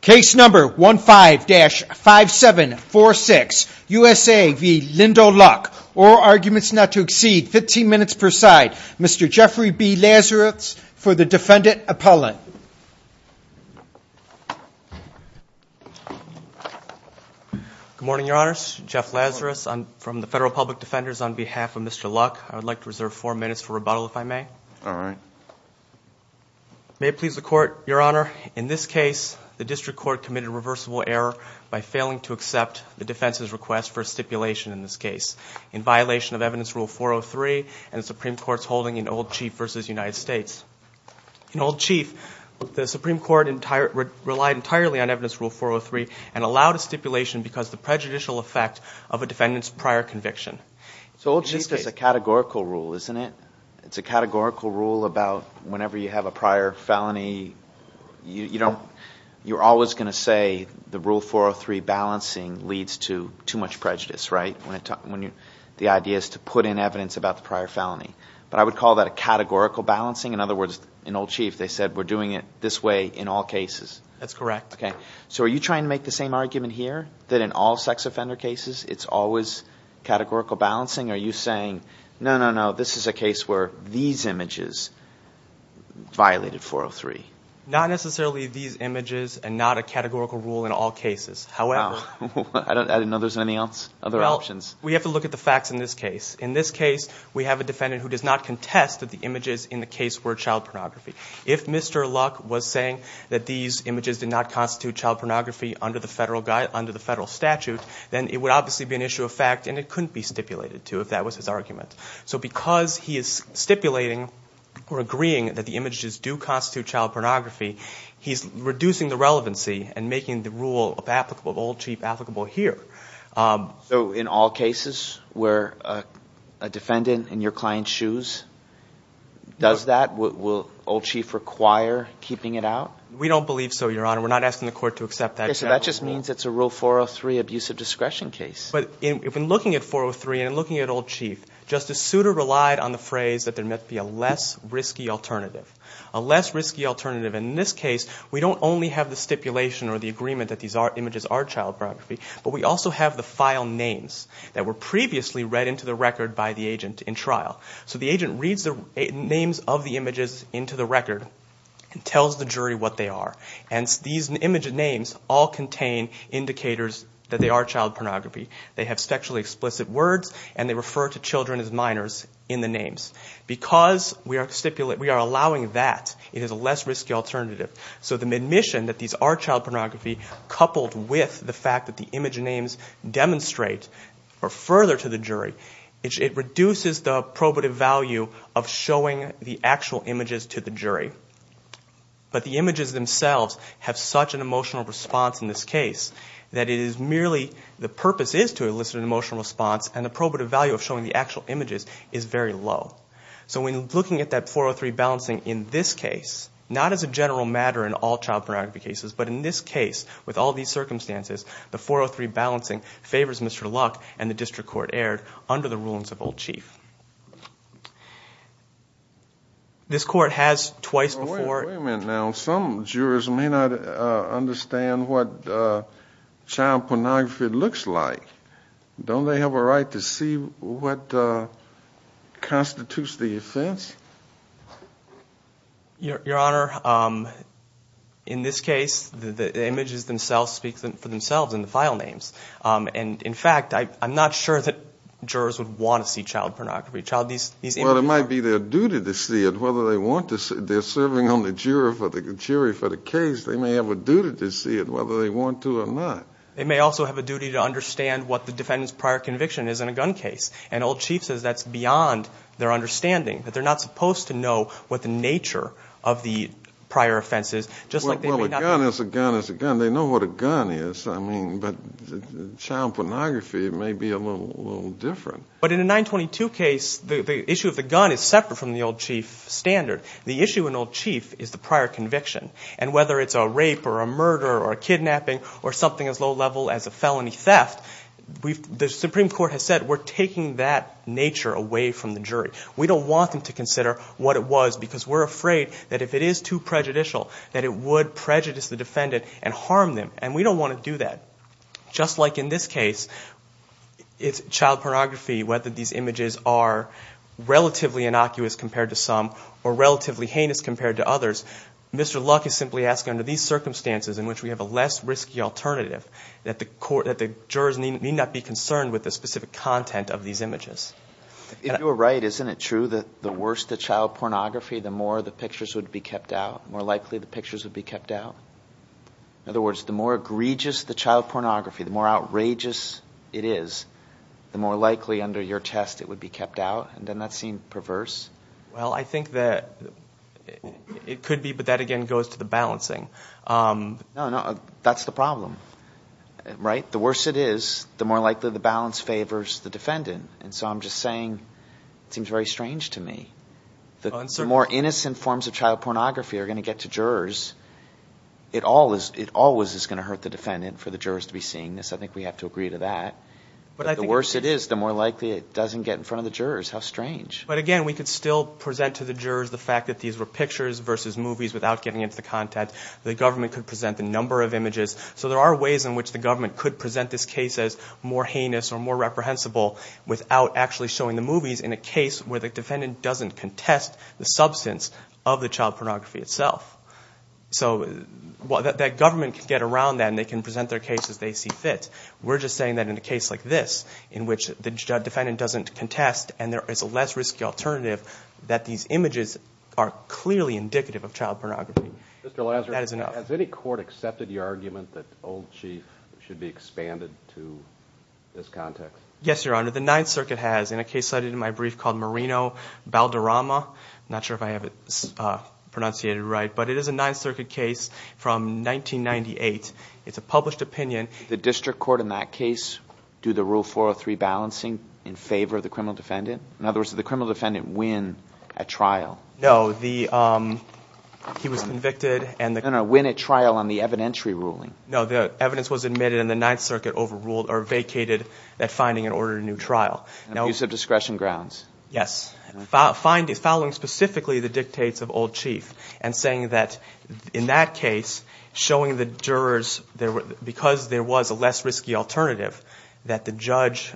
Case number 15-5746, USA v. Lindell Luck. Oral arguments not to exceed 15 minutes per side. Mr. Jeffrey B. Lazarus for the defendant appellant. Good morning, your honors. Jeff Lazarus from the Federal Public Defenders on behalf of Mr. Luck. I would like to reserve four minutes for rebuttal, if I may. All right. May it please the court, your honor, in this case, the district court committed a reversible error by failing to accept the defense's request for a stipulation in this case in violation of Evidence Rule 403 and the Supreme Court's holding in Old Chief v. United States. In Old Chief, the Supreme Court relied entirely on Evidence Rule 403 and allowed a stipulation because of the prejudicial effect of a defendant's prior conviction. So Old Chief is a categorical rule, isn't it? It's a categorical rule about whenever you have a prior felony, you're always going to say the Rule 403 balancing leads to too much prejudice, right? The idea is to put in evidence about the prior felony. But I would call that a categorical balancing. In other words, in Old Chief, they said we're doing it this way in all cases. That's correct. Okay. So are you trying to make the same argument here that in all sex offender cases, it's always categorical balancing? Are you saying, no, no, no, this is a case where these images violated 403? Not necessarily these images and not a categorical rule in all cases. However, I didn't know there was any other options. Well, we have to look at the facts in this case. In this case, we have a defendant who does not contest that the images in the case were child pornography. If Mr. Luck was saying that these images did not constitute child pornography under the federal statute, then it would obviously be an issue of fact, and it couldn't be stipulated to if that was his argument. So because he is stipulating or agreeing that the images do constitute child pornography, he's reducing the relevancy and making the rule of Old Chief applicable here. So in all cases where a defendant in your client's shoes does that, will Old Chief require keeping it out? We don't believe so, Your Honor. We're not asking the court to accept that. Okay, so that just means it's a Rule 403 abuse of discretion case. But in looking at 403 and looking at Old Chief, Justice Souter relied on the phrase that there must be a less risky alternative. A less risky alternative in this case, we don't only have the stipulation or the agreement that these images are child pornography, but we also have the file names that were previously read into the record by the agent in trial. So the agent reads the names of the images into the record and tells the jury what they are. And these image names all contain indicators that they are child pornography. They have sexually explicit words, and they refer to children as minors in the names. Because we are allowing that, it is a less risky alternative. So the admission that these are child pornography, coupled with the fact that the image names demonstrate further to the jury, it reduces the probative value of showing the actual images to the jury. But the images themselves have such an emotional response in this case, that it is merely the purpose is to elicit an emotional response, and the probative value of showing the actual images is very low. So when looking at that 403 balancing in this case, not as a general matter in all child pornography cases, but in this case, with all these circumstances, the 403 balancing favors Mr. Luck, and the district court erred under the rulings of Old Chief. This court has twice before... Wait a minute now. Some jurors may not understand what child pornography looks like. Don't they have a right to see what constitutes the offense? Your Honor, in this case, the images themselves speak for themselves in the file names. And in fact, I'm not sure that jurors would want to see child pornography. Well, it might be their duty to see it, whether they want to. They're serving on the jury for the case. They may have a duty to see it, whether they want to or not. They may also have a duty to understand what the defendant's prior conviction is in a gun case. And Old Chief says that's beyond their understanding, that they're not supposed to know what the nature of the prior offense is. Well, a gun is a gun is a gun. They know what a gun is. I mean, but child pornography may be a little different. But in a 922 case, the issue of the gun is separate from the Old Chief standard. The issue in Old Chief is the prior conviction. And whether it's a rape or a murder or a kidnapping or something as low level as a felony theft, the Supreme Court has said we're taking that nature away from the jury. We don't want them to consider what it was because we're afraid that if it is too prejudicial, that it would prejudice the defendant and harm them. And we don't want to do that. Just like in this case, it's child pornography, whether these images are relatively innocuous compared to some or relatively heinous compared to others. Mr. Luck is simply asking, under these circumstances in which we have a less risky alternative, that the jurors need not be concerned with the specific content of these images. If you're right, isn't it true that the worse the child pornography, the more the pictures would be kept out, more likely the pictures would be kept out? In other words, the more egregious the child pornography, the more outrageous it is, the more likely under your test it would be kept out? And doesn't that seem perverse? Well, I think that it could be, but that again goes to the balancing. No, no, that's the problem, right? The worse it is, the more likely the balance favors the defendant. And so I'm just saying it seems very strange to me. The more innocent forms of child pornography are going to get to jurors, it always is going to hurt the defendant for the jurors to be seeing this. I think we have to agree to that. But the worse it is, the more likely it doesn't get in front of the jurors. How strange. But again, we could still present to the jurors the fact that these were pictures versus movies without getting into the content. The government could present a number of images. So there are ways in which the government could present this case as more heinous or more reprehensible without actually showing the movies in a case where the defendant doesn't contest the substance of the child pornography itself. So that government could get around that and they can present their case as they see fit. We're just saying that in a case like this in which the defendant doesn't contest and there is a less risky alternative, that these images are clearly indicative of child pornography. Mr. Lazarus, has any court accepted your argument that Old Chief should be expanded to this context? Yes, Your Honor. The Ninth Circuit has in a case cited in my brief called Marino-Balderrama. I'm not sure if I have it pronunciated right. But it is a Ninth Circuit case from 1998. It's a published opinion. Does the district court in that case do the Rule 403 balancing in favor of the criminal defendant? In other words, did the criminal defendant win a trial? No. He was convicted. No, no. Win a trial on the evidentiary ruling. No, the evidence was admitted and the Ninth Circuit overruled or vacated that finding and ordered a new trial. Abuse of discretion grounds. Yes. Following specifically the dictates of Old Chief and saying that in that case, showing the jurors, because there was a less risky alternative, that the judge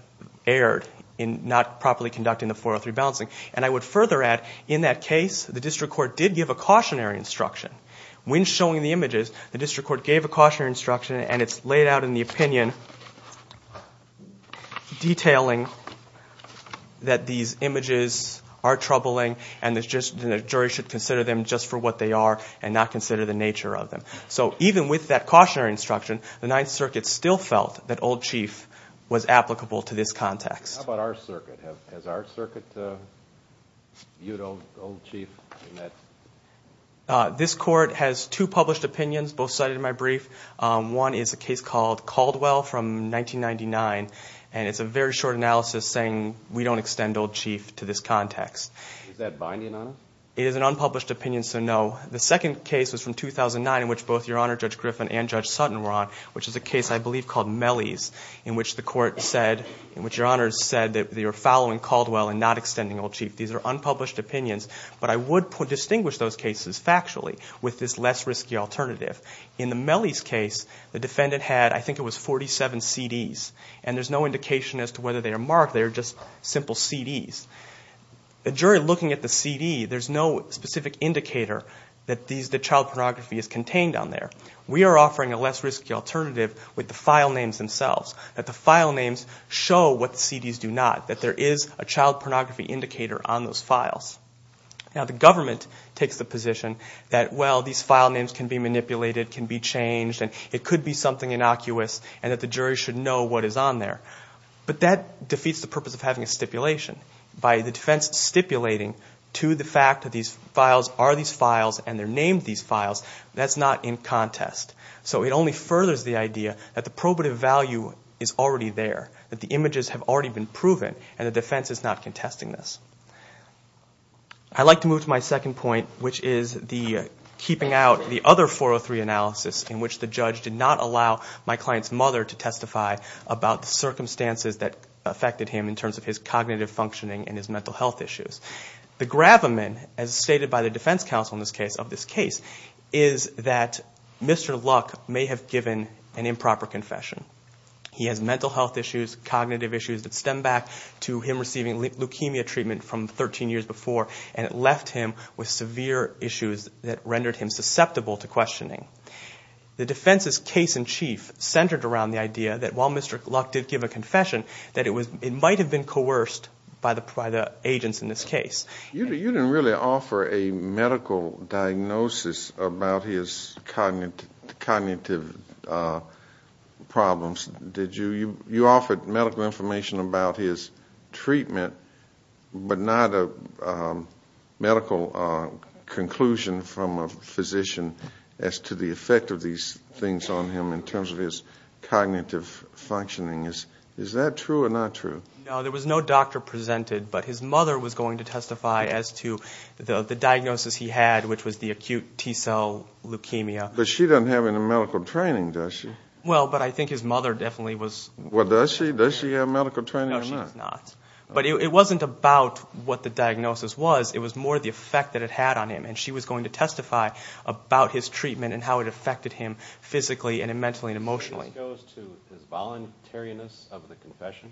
erred in not properly conducting the 403 balancing. And I would further add, in that case, the district court did give a cautionary instruction. When showing the images, the district court gave a cautionary instruction, and it's laid out in the opinion detailing that these images are troubling and the jury should consider them just for what they are and not consider the nature of them. So even with that cautionary instruction, the Ninth Circuit still felt that Old Chief was applicable to this context. How about our circuit? Has our circuit viewed Old Chief in that? This court has two published opinions, both cited in my brief. One is a case called Caldwell from 1999, and it's a very short analysis saying we don't extend Old Chief to this context. Is that binding on it? It is an unpublished opinion, so no. The second case was from 2009, in which both Your Honor Judge Griffin and Judge Sutton were on, which is a case I believe called Mellie's, in which the court said, in which Your Honor said that they were following Caldwell and not extending Old Chief. These are unpublished opinions. But I would distinguish those cases factually with this less risky alternative. In the Mellie's case, the defendant had, I think it was, 47 CDs, and there's no indication as to whether they are marked. They are just simple CDs. The jury looking at the CD, there's no specific indicator that child pornography is contained on there. We are offering a less risky alternative with the file names themselves, that the file names show what the CDs do not, that there is a child pornography indicator on those files. Now the government takes the position that, well, these file names can be manipulated, can be changed, and it could be something innocuous, and that the jury should know what is on there. But that defeats the purpose of having a stipulation. By the defense stipulating to the fact that these files are these files, and they're named these files, that's not in contest. So it only furthers the idea that the probative value is already there, that the images have already been proven, and the defense is not contesting this. I'd like to move to my second point, which is keeping out the other 403 analysis, in which the judge did not allow my client's mother to testify about the circumstances that affected him in terms of his cognitive functioning and his mental health issues. The gravamen, as stated by the defense counsel in this case, of this case, is that Mr. Luck may have given an improper confession. He has mental health issues, cognitive issues that stem back to him receiving leukemia treatment from 13 years before, and it left him with severe issues that rendered him susceptible to questioning. The defense's case in chief centered around the idea that while Mr. Luck did give a confession, that it might have been coerced by the agents in this case. You didn't really offer a medical diagnosis about his cognitive problems, did you? You offered medical information about his treatment, but not a medical conclusion from a physician as to the effect of these things on him in terms of his cognitive functioning. Is that true or not true? No, there was no doctor presented, but his mother was going to testify as to the diagnosis he had, which was the acute T cell leukemia. But she doesn't have any medical training, does she? Well, but I think his mother definitely was. Does she have medical training? No, she does not, but it wasn't about what the diagnosis was. It was more the effect that it had on him, and she was going to testify about his treatment and how it affected him physically and mentally and emotionally. This goes to his voluntariness of the confession?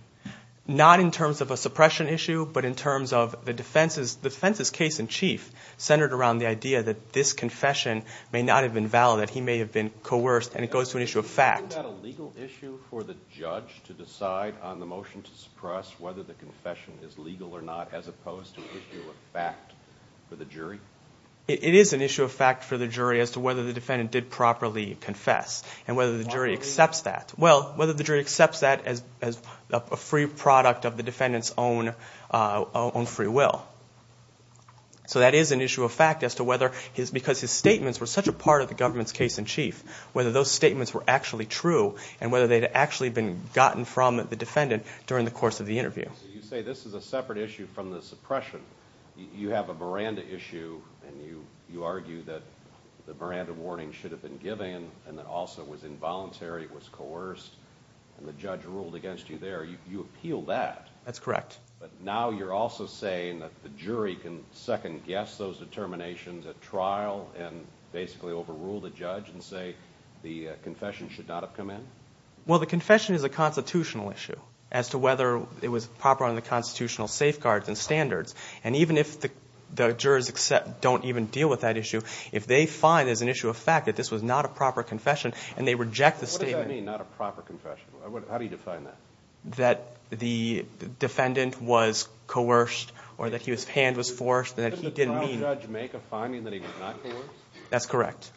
Not in terms of a suppression issue, but in terms of the defense's case in chief, centered around the idea that this confession may not have been valid, that he may have been coerced, and it goes to an issue of fact. Isn't that a legal issue for the judge to decide on the motion to suppress whether the confession is legal or not, as opposed to an issue of fact for the jury? It is an issue of fact for the jury as to whether the defendant did properly confess and whether the jury accepts that. Well, whether the jury accepts that as a free product of the defendant's own free will. So that is an issue of fact as to whether, because his statements were such a part of the government's case in chief, whether those statements were actually true and whether they had actually been gotten from the defendant during the course of the interview. You say this is a separate issue from the suppression. You have a Miranda issue and you argue that the Miranda warning should have been given and that also it was involuntary, it was coerced, and the judge ruled against you there. You appeal that. That's correct. But now you're also saying that the jury can second-guess those determinations at trial and basically overrule the judge and say the confession should not have come in? Well, the confession is a constitutional issue as to whether it was proper under the constitutional safeguards and standards. And even if the jurors don't even deal with that issue, if they find as an issue of fact that this was not a proper confession and they reject the statement... What does that mean, not a proper confession? How do you define that? That the defendant was coerced or that his hand was forced, that he didn't mean... Didn't the trial judge make a finding that he was not coerced? That's correct.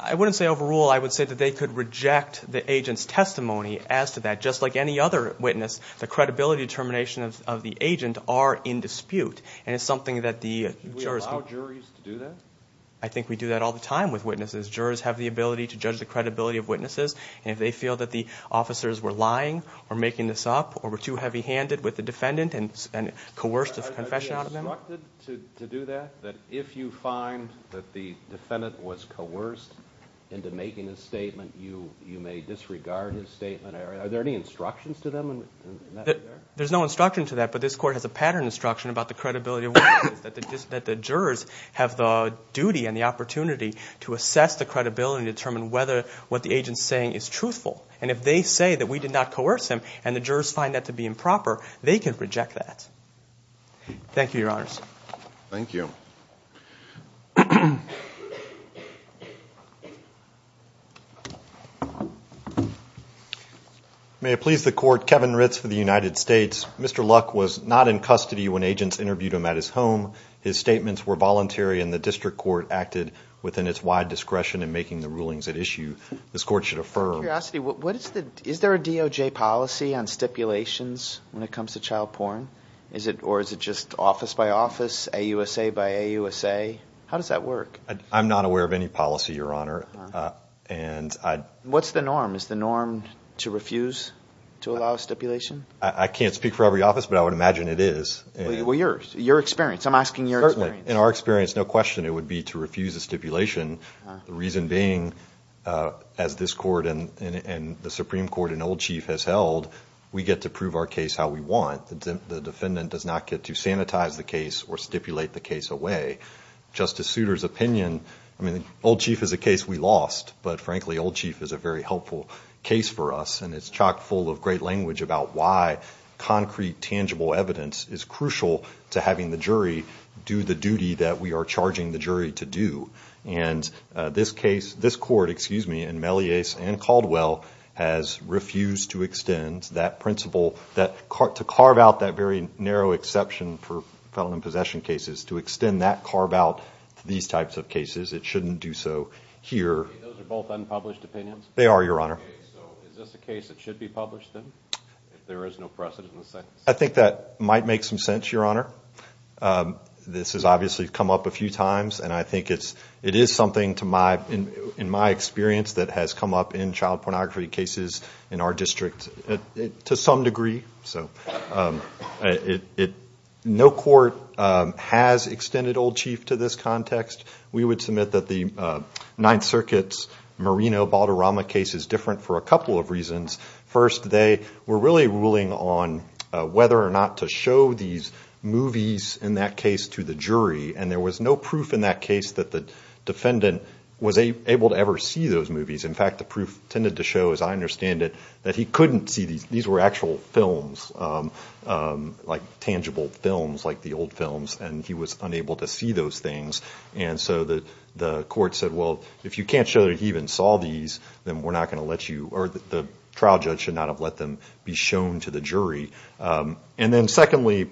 I wouldn't say overrule. I would say that they could reject the agent's testimony as to that. Just like any other witness, the credibility determinations of the agent are in dispute. And it's something that the jurors... I think we do that all the time with witnesses. Jurors have the ability to judge the credibility of witnesses. And if they feel that the officers were lying or making this up or were too heavy-handed with the defendant and coerced his confession out of them... Are they instructed to do that, that if you find that the defendant was coerced into making a statement, you may disregard his statement? Are there any instructions to them in that regard? There's no instruction to that, but this Court has a pattern instruction about the credibility of witnesses, that the jurors have the duty and the opportunity to assess the credibility and determine whether what the agent's saying is truthful. And if they say that we did not coerce him and the jurors find that to be improper, they can reject that. Thank you, Your Honors. Thank you. May it please the Court, Kevin Ritz for the United States. Is there a DOJ policy on stipulations when it comes to child porn? Or is it just office by office, AUSA by AUSA? How does that work? I'm not aware of any policy, Your Honor. What's the norm? Is the norm to refuse to allow stipulation? I can't speak for every office, but I would imagine it is. Well, your experience. I'm asking your experience. I mean, it's no question it would be to refuse a stipulation, the reason being, as this Court and the Supreme Court and Old Chief has held, we get to prove our case how we want. The defendant does not get to sanitize the case or stipulate the case away. Justice Souter's opinion, I mean, Old Chief is a case we lost, but frankly, Old Chief is a very helpful case for us, and it's chock full of great language about why concrete, tangible evidence is crucial to having the jury do the duty that we are charging the jury to do. And this case, this Court, excuse me, in Melleas and Caldwell has refused to extend that principle, to carve out that very narrow exception for felon in possession cases, to extend that carve out to these types of cases. It shouldn't do so here. Those are both unpublished opinions? They are, Your Honor. I think that might make some sense, Your Honor. This has obviously come up a few times, and I think it is something, in my experience, that has come up in child pornography cases in our district, to some degree. No court has extended Old Chief to this context. We would submit that the Ninth Circuit's Marino-Baltarama case is different for a couple of reasons. First, they were really ruling on whether or not to show these movies in that case to the jury, and there was no proof in that case that the defendant was able to ever see those movies. In fact, the proof tended to show, as I understand it, that he couldn't see these. These were actual films, tangible films like the old films, and he was unable to see those things. And so the Court said, well, if you can't show that he even saw these, then we're not going to let you, or the trial judge should not have let them be shown to the jury. And then secondly,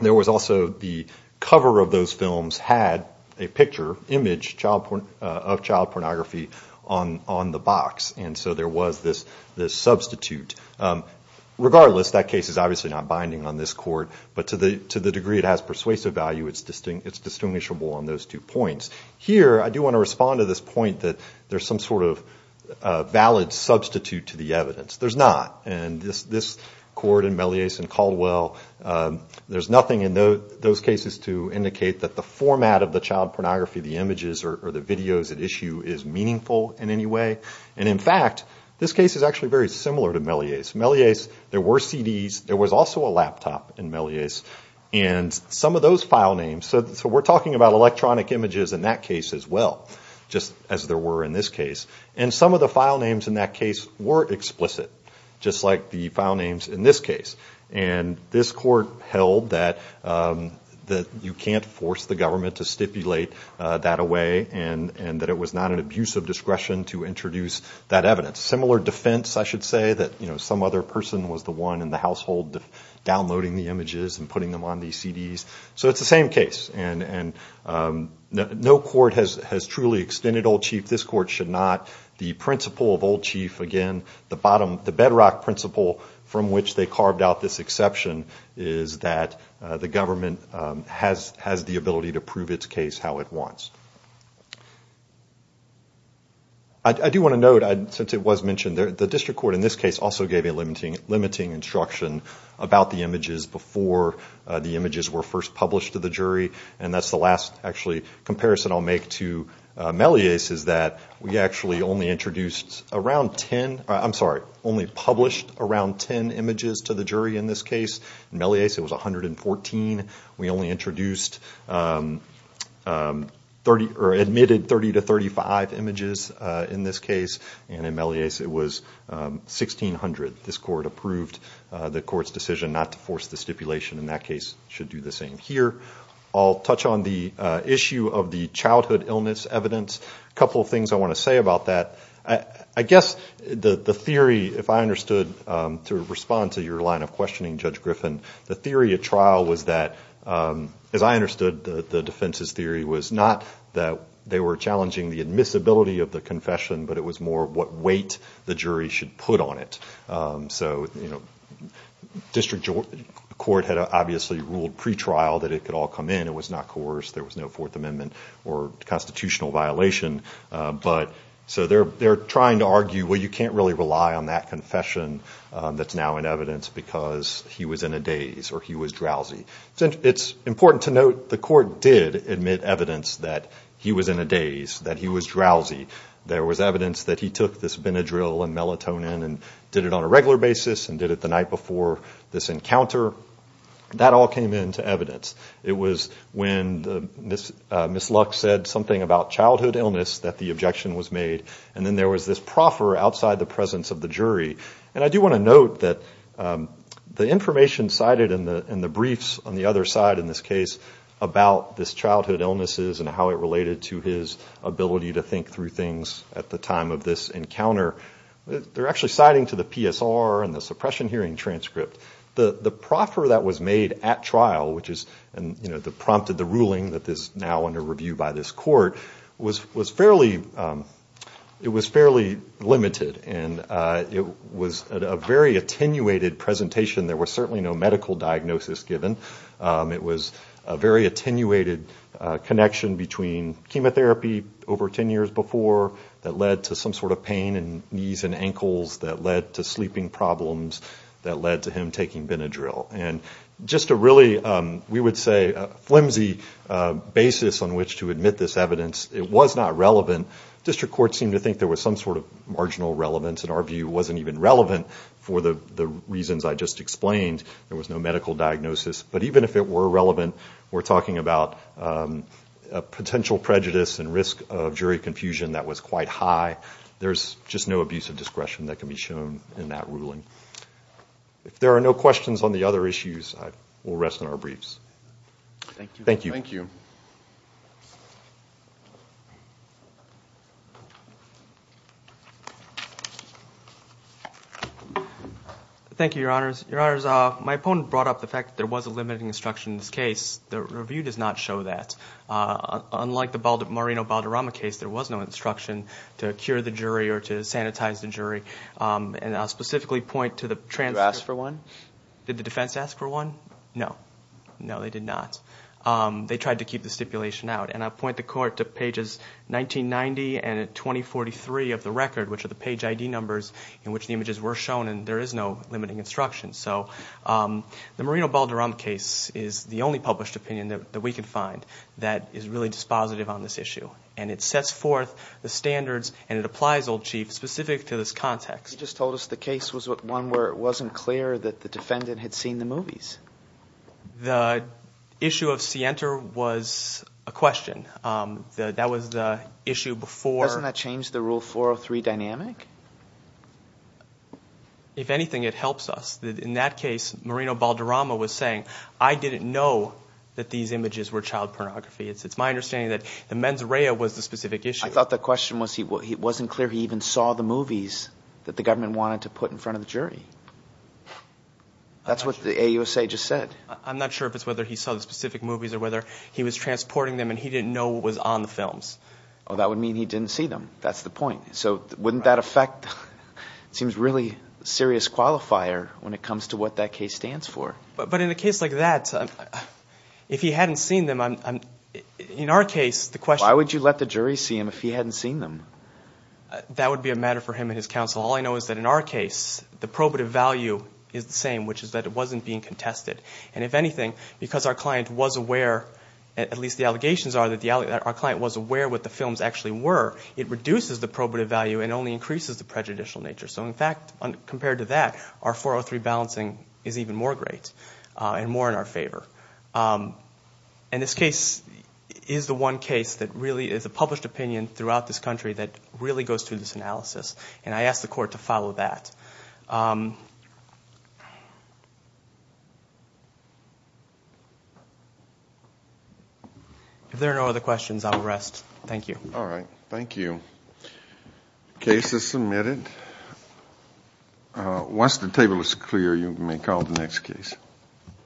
there was also the cover of those films had a picture, an image of child pornography on the box. And so there was this substitute. Regardless, that case is obviously not binding on this Court, but to the degree it has persuasive value, it's distinguishable on those two points. Here, I do want to respond to this point that there's some sort of valid substitute to the evidence. There's not, and this Court in Melleas and Caldwell, there's nothing in those cases to indicate that the format of the child pornography, the images or the videos at issue, is meaningful in any way. And in fact, this case is actually very similar to Melleas. Melleas, there were CDs. There was also a laptop in Melleas. And some of those file names, so we're talking about electronic images in that case as well, just as there were in this case. And some of the file names in that case were explicit, just like the file names in this case. And this Court held that you can't force the government to stipulate that away, and that it was not an abuse of discretion to introduce that evidence. Similar defense, I should say, that some other person was the one in the household downloading the images and putting them on these CDs. So it's the same case, and no court has truly extended Old Chief. This Court should not. The principle of Old Chief, again, the bedrock principle from which they carved out this exception, is that the government has the ability to prove its case how it wants. I do want to note, since it was mentioned, the District Court in this case also gave a limiting instruction about the images before the images were first published to the jury. And that's the last, actually, comparison I'll make to Melleas, is that we actually only published around 10 images to the jury in this case. In Melleas it was 114. We only admitted 30 to 35 images in this case, and in Melleas it was 1,600. This Court approved the Court's decision not to force the stipulation, and that case should do the same here. I'll touch on the issue of the childhood illness evidence. A couple of things I want to say about that. I guess the theory, if I understood, to respond to your line of questioning, Judge Griffin, the theory at trial was that, as I understood the defense's theory, was not that they were challenging the admissibility of the confession, but it was more what weight the jury should put on it. District Court had obviously ruled pre-trial that it could all come in. It was not coerced. There was no Fourth Amendment or constitutional violation. So they're trying to argue, well, you can't really rely on that confession that's now in evidence because he was in a daze or he was drowsy. It's important to note the Court did admit evidence that he was in a daze, that he was drowsy. There was evidence that he took this Benadryl and melatonin and did it on a regular basis and did it the night before this encounter. That all came into evidence. It was when Ms. Lux said something about childhood illness that the objection was made, and then there was this proffer outside the presence of the jury. And I do want to note that the information cited in the briefs on the other side in this case about this childhood illnesses and how it related to his ability to think through things at the time of this encounter, they're actually citing to the PSR and the suppression hearing transcript. The proffer that was made at trial, which prompted the ruling that is now under review by this Court, it was fairly limited. And it was a very attenuated presentation. There was certainly no medical diagnosis given. It was a very attenuated connection between chemotherapy over 10 years before that led to some sort of pain in knees and ankles that led to sleeping problems that led to him taking Benadryl. And just a really, we would say, flimsy basis on which to admit this evidence. It was not relevant. District courts seemed to think there was some sort of marginal relevance. In our view, it wasn't even relevant for the reasons I just explained. There was no medical diagnosis. But even if it were relevant, we're talking about a potential prejudice and risk of jury confusion that was quite high. There's just no abuse of discretion that can be shown in that ruling. If there are no questions on the other issues, we'll rest on our briefs. Thank you. Thank you, Your Honors. My opponent brought up the fact that there was a limiting instruction in this case. The review does not show that. Unlike the Marino-Balderrama case, there was no instruction to cure the jury or to sanitize the jury. Did the defense ask for one? No, they did not. They tried to keep the stipulation out. And I'll point the court to pages 1990 and 2043 of the record, which are the page ID numbers in which the images were shown. And there is no limiting instruction. So the Marino-Balderrama case is the only published opinion that we can find that is really dispositive on this issue. And it sets forth the standards, and it applies, Old Chief, specific to this context. You just told us the case was one where it wasn't clear that the defendant had seen the movies. The issue of Sienta was a question. That was the issue before. Doesn't that change the Rule 403 dynamic? If anything, it helps us. In that case, Marino-Balderrama was saying, I didn't know that these images were child pornography. It's my understanding that the mens rea was the specific issue. I thought the question was it wasn't clear he even saw the movies that the government wanted to put in front of the jury. That's what the AUSA just said. I'm not sure if it's whether he saw the specific movies or whether he was transporting them and he didn't know what was on the films. Oh, that would mean he didn't see them. That's the point. So wouldn't that affect, it seems, a really serious qualifier when it comes to what that case stands for. But in a case like that, if he hadn't seen them, in our case, the question... Why would you let the jury see them if he hadn't seen them? That would be a matter for him and his counsel. All I know is that in our case, the probative value is the same, which is that it wasn't being contested. And if anything, because our client was aware, at least the allegations are that our client was aware what the films actually were, it reduces the probative value and only increases the prejudicial nature. So in fact, compared to that, our 403 balancing is even more great and more in our favor. And this case is the one case that really is a published opinion throughout this country that really goes through this analysis. And I ask the court to follow that. If there are no other questions, I will rest. Thank you. Thank you. Case is submitted. Once the table is clear, you may call the next case.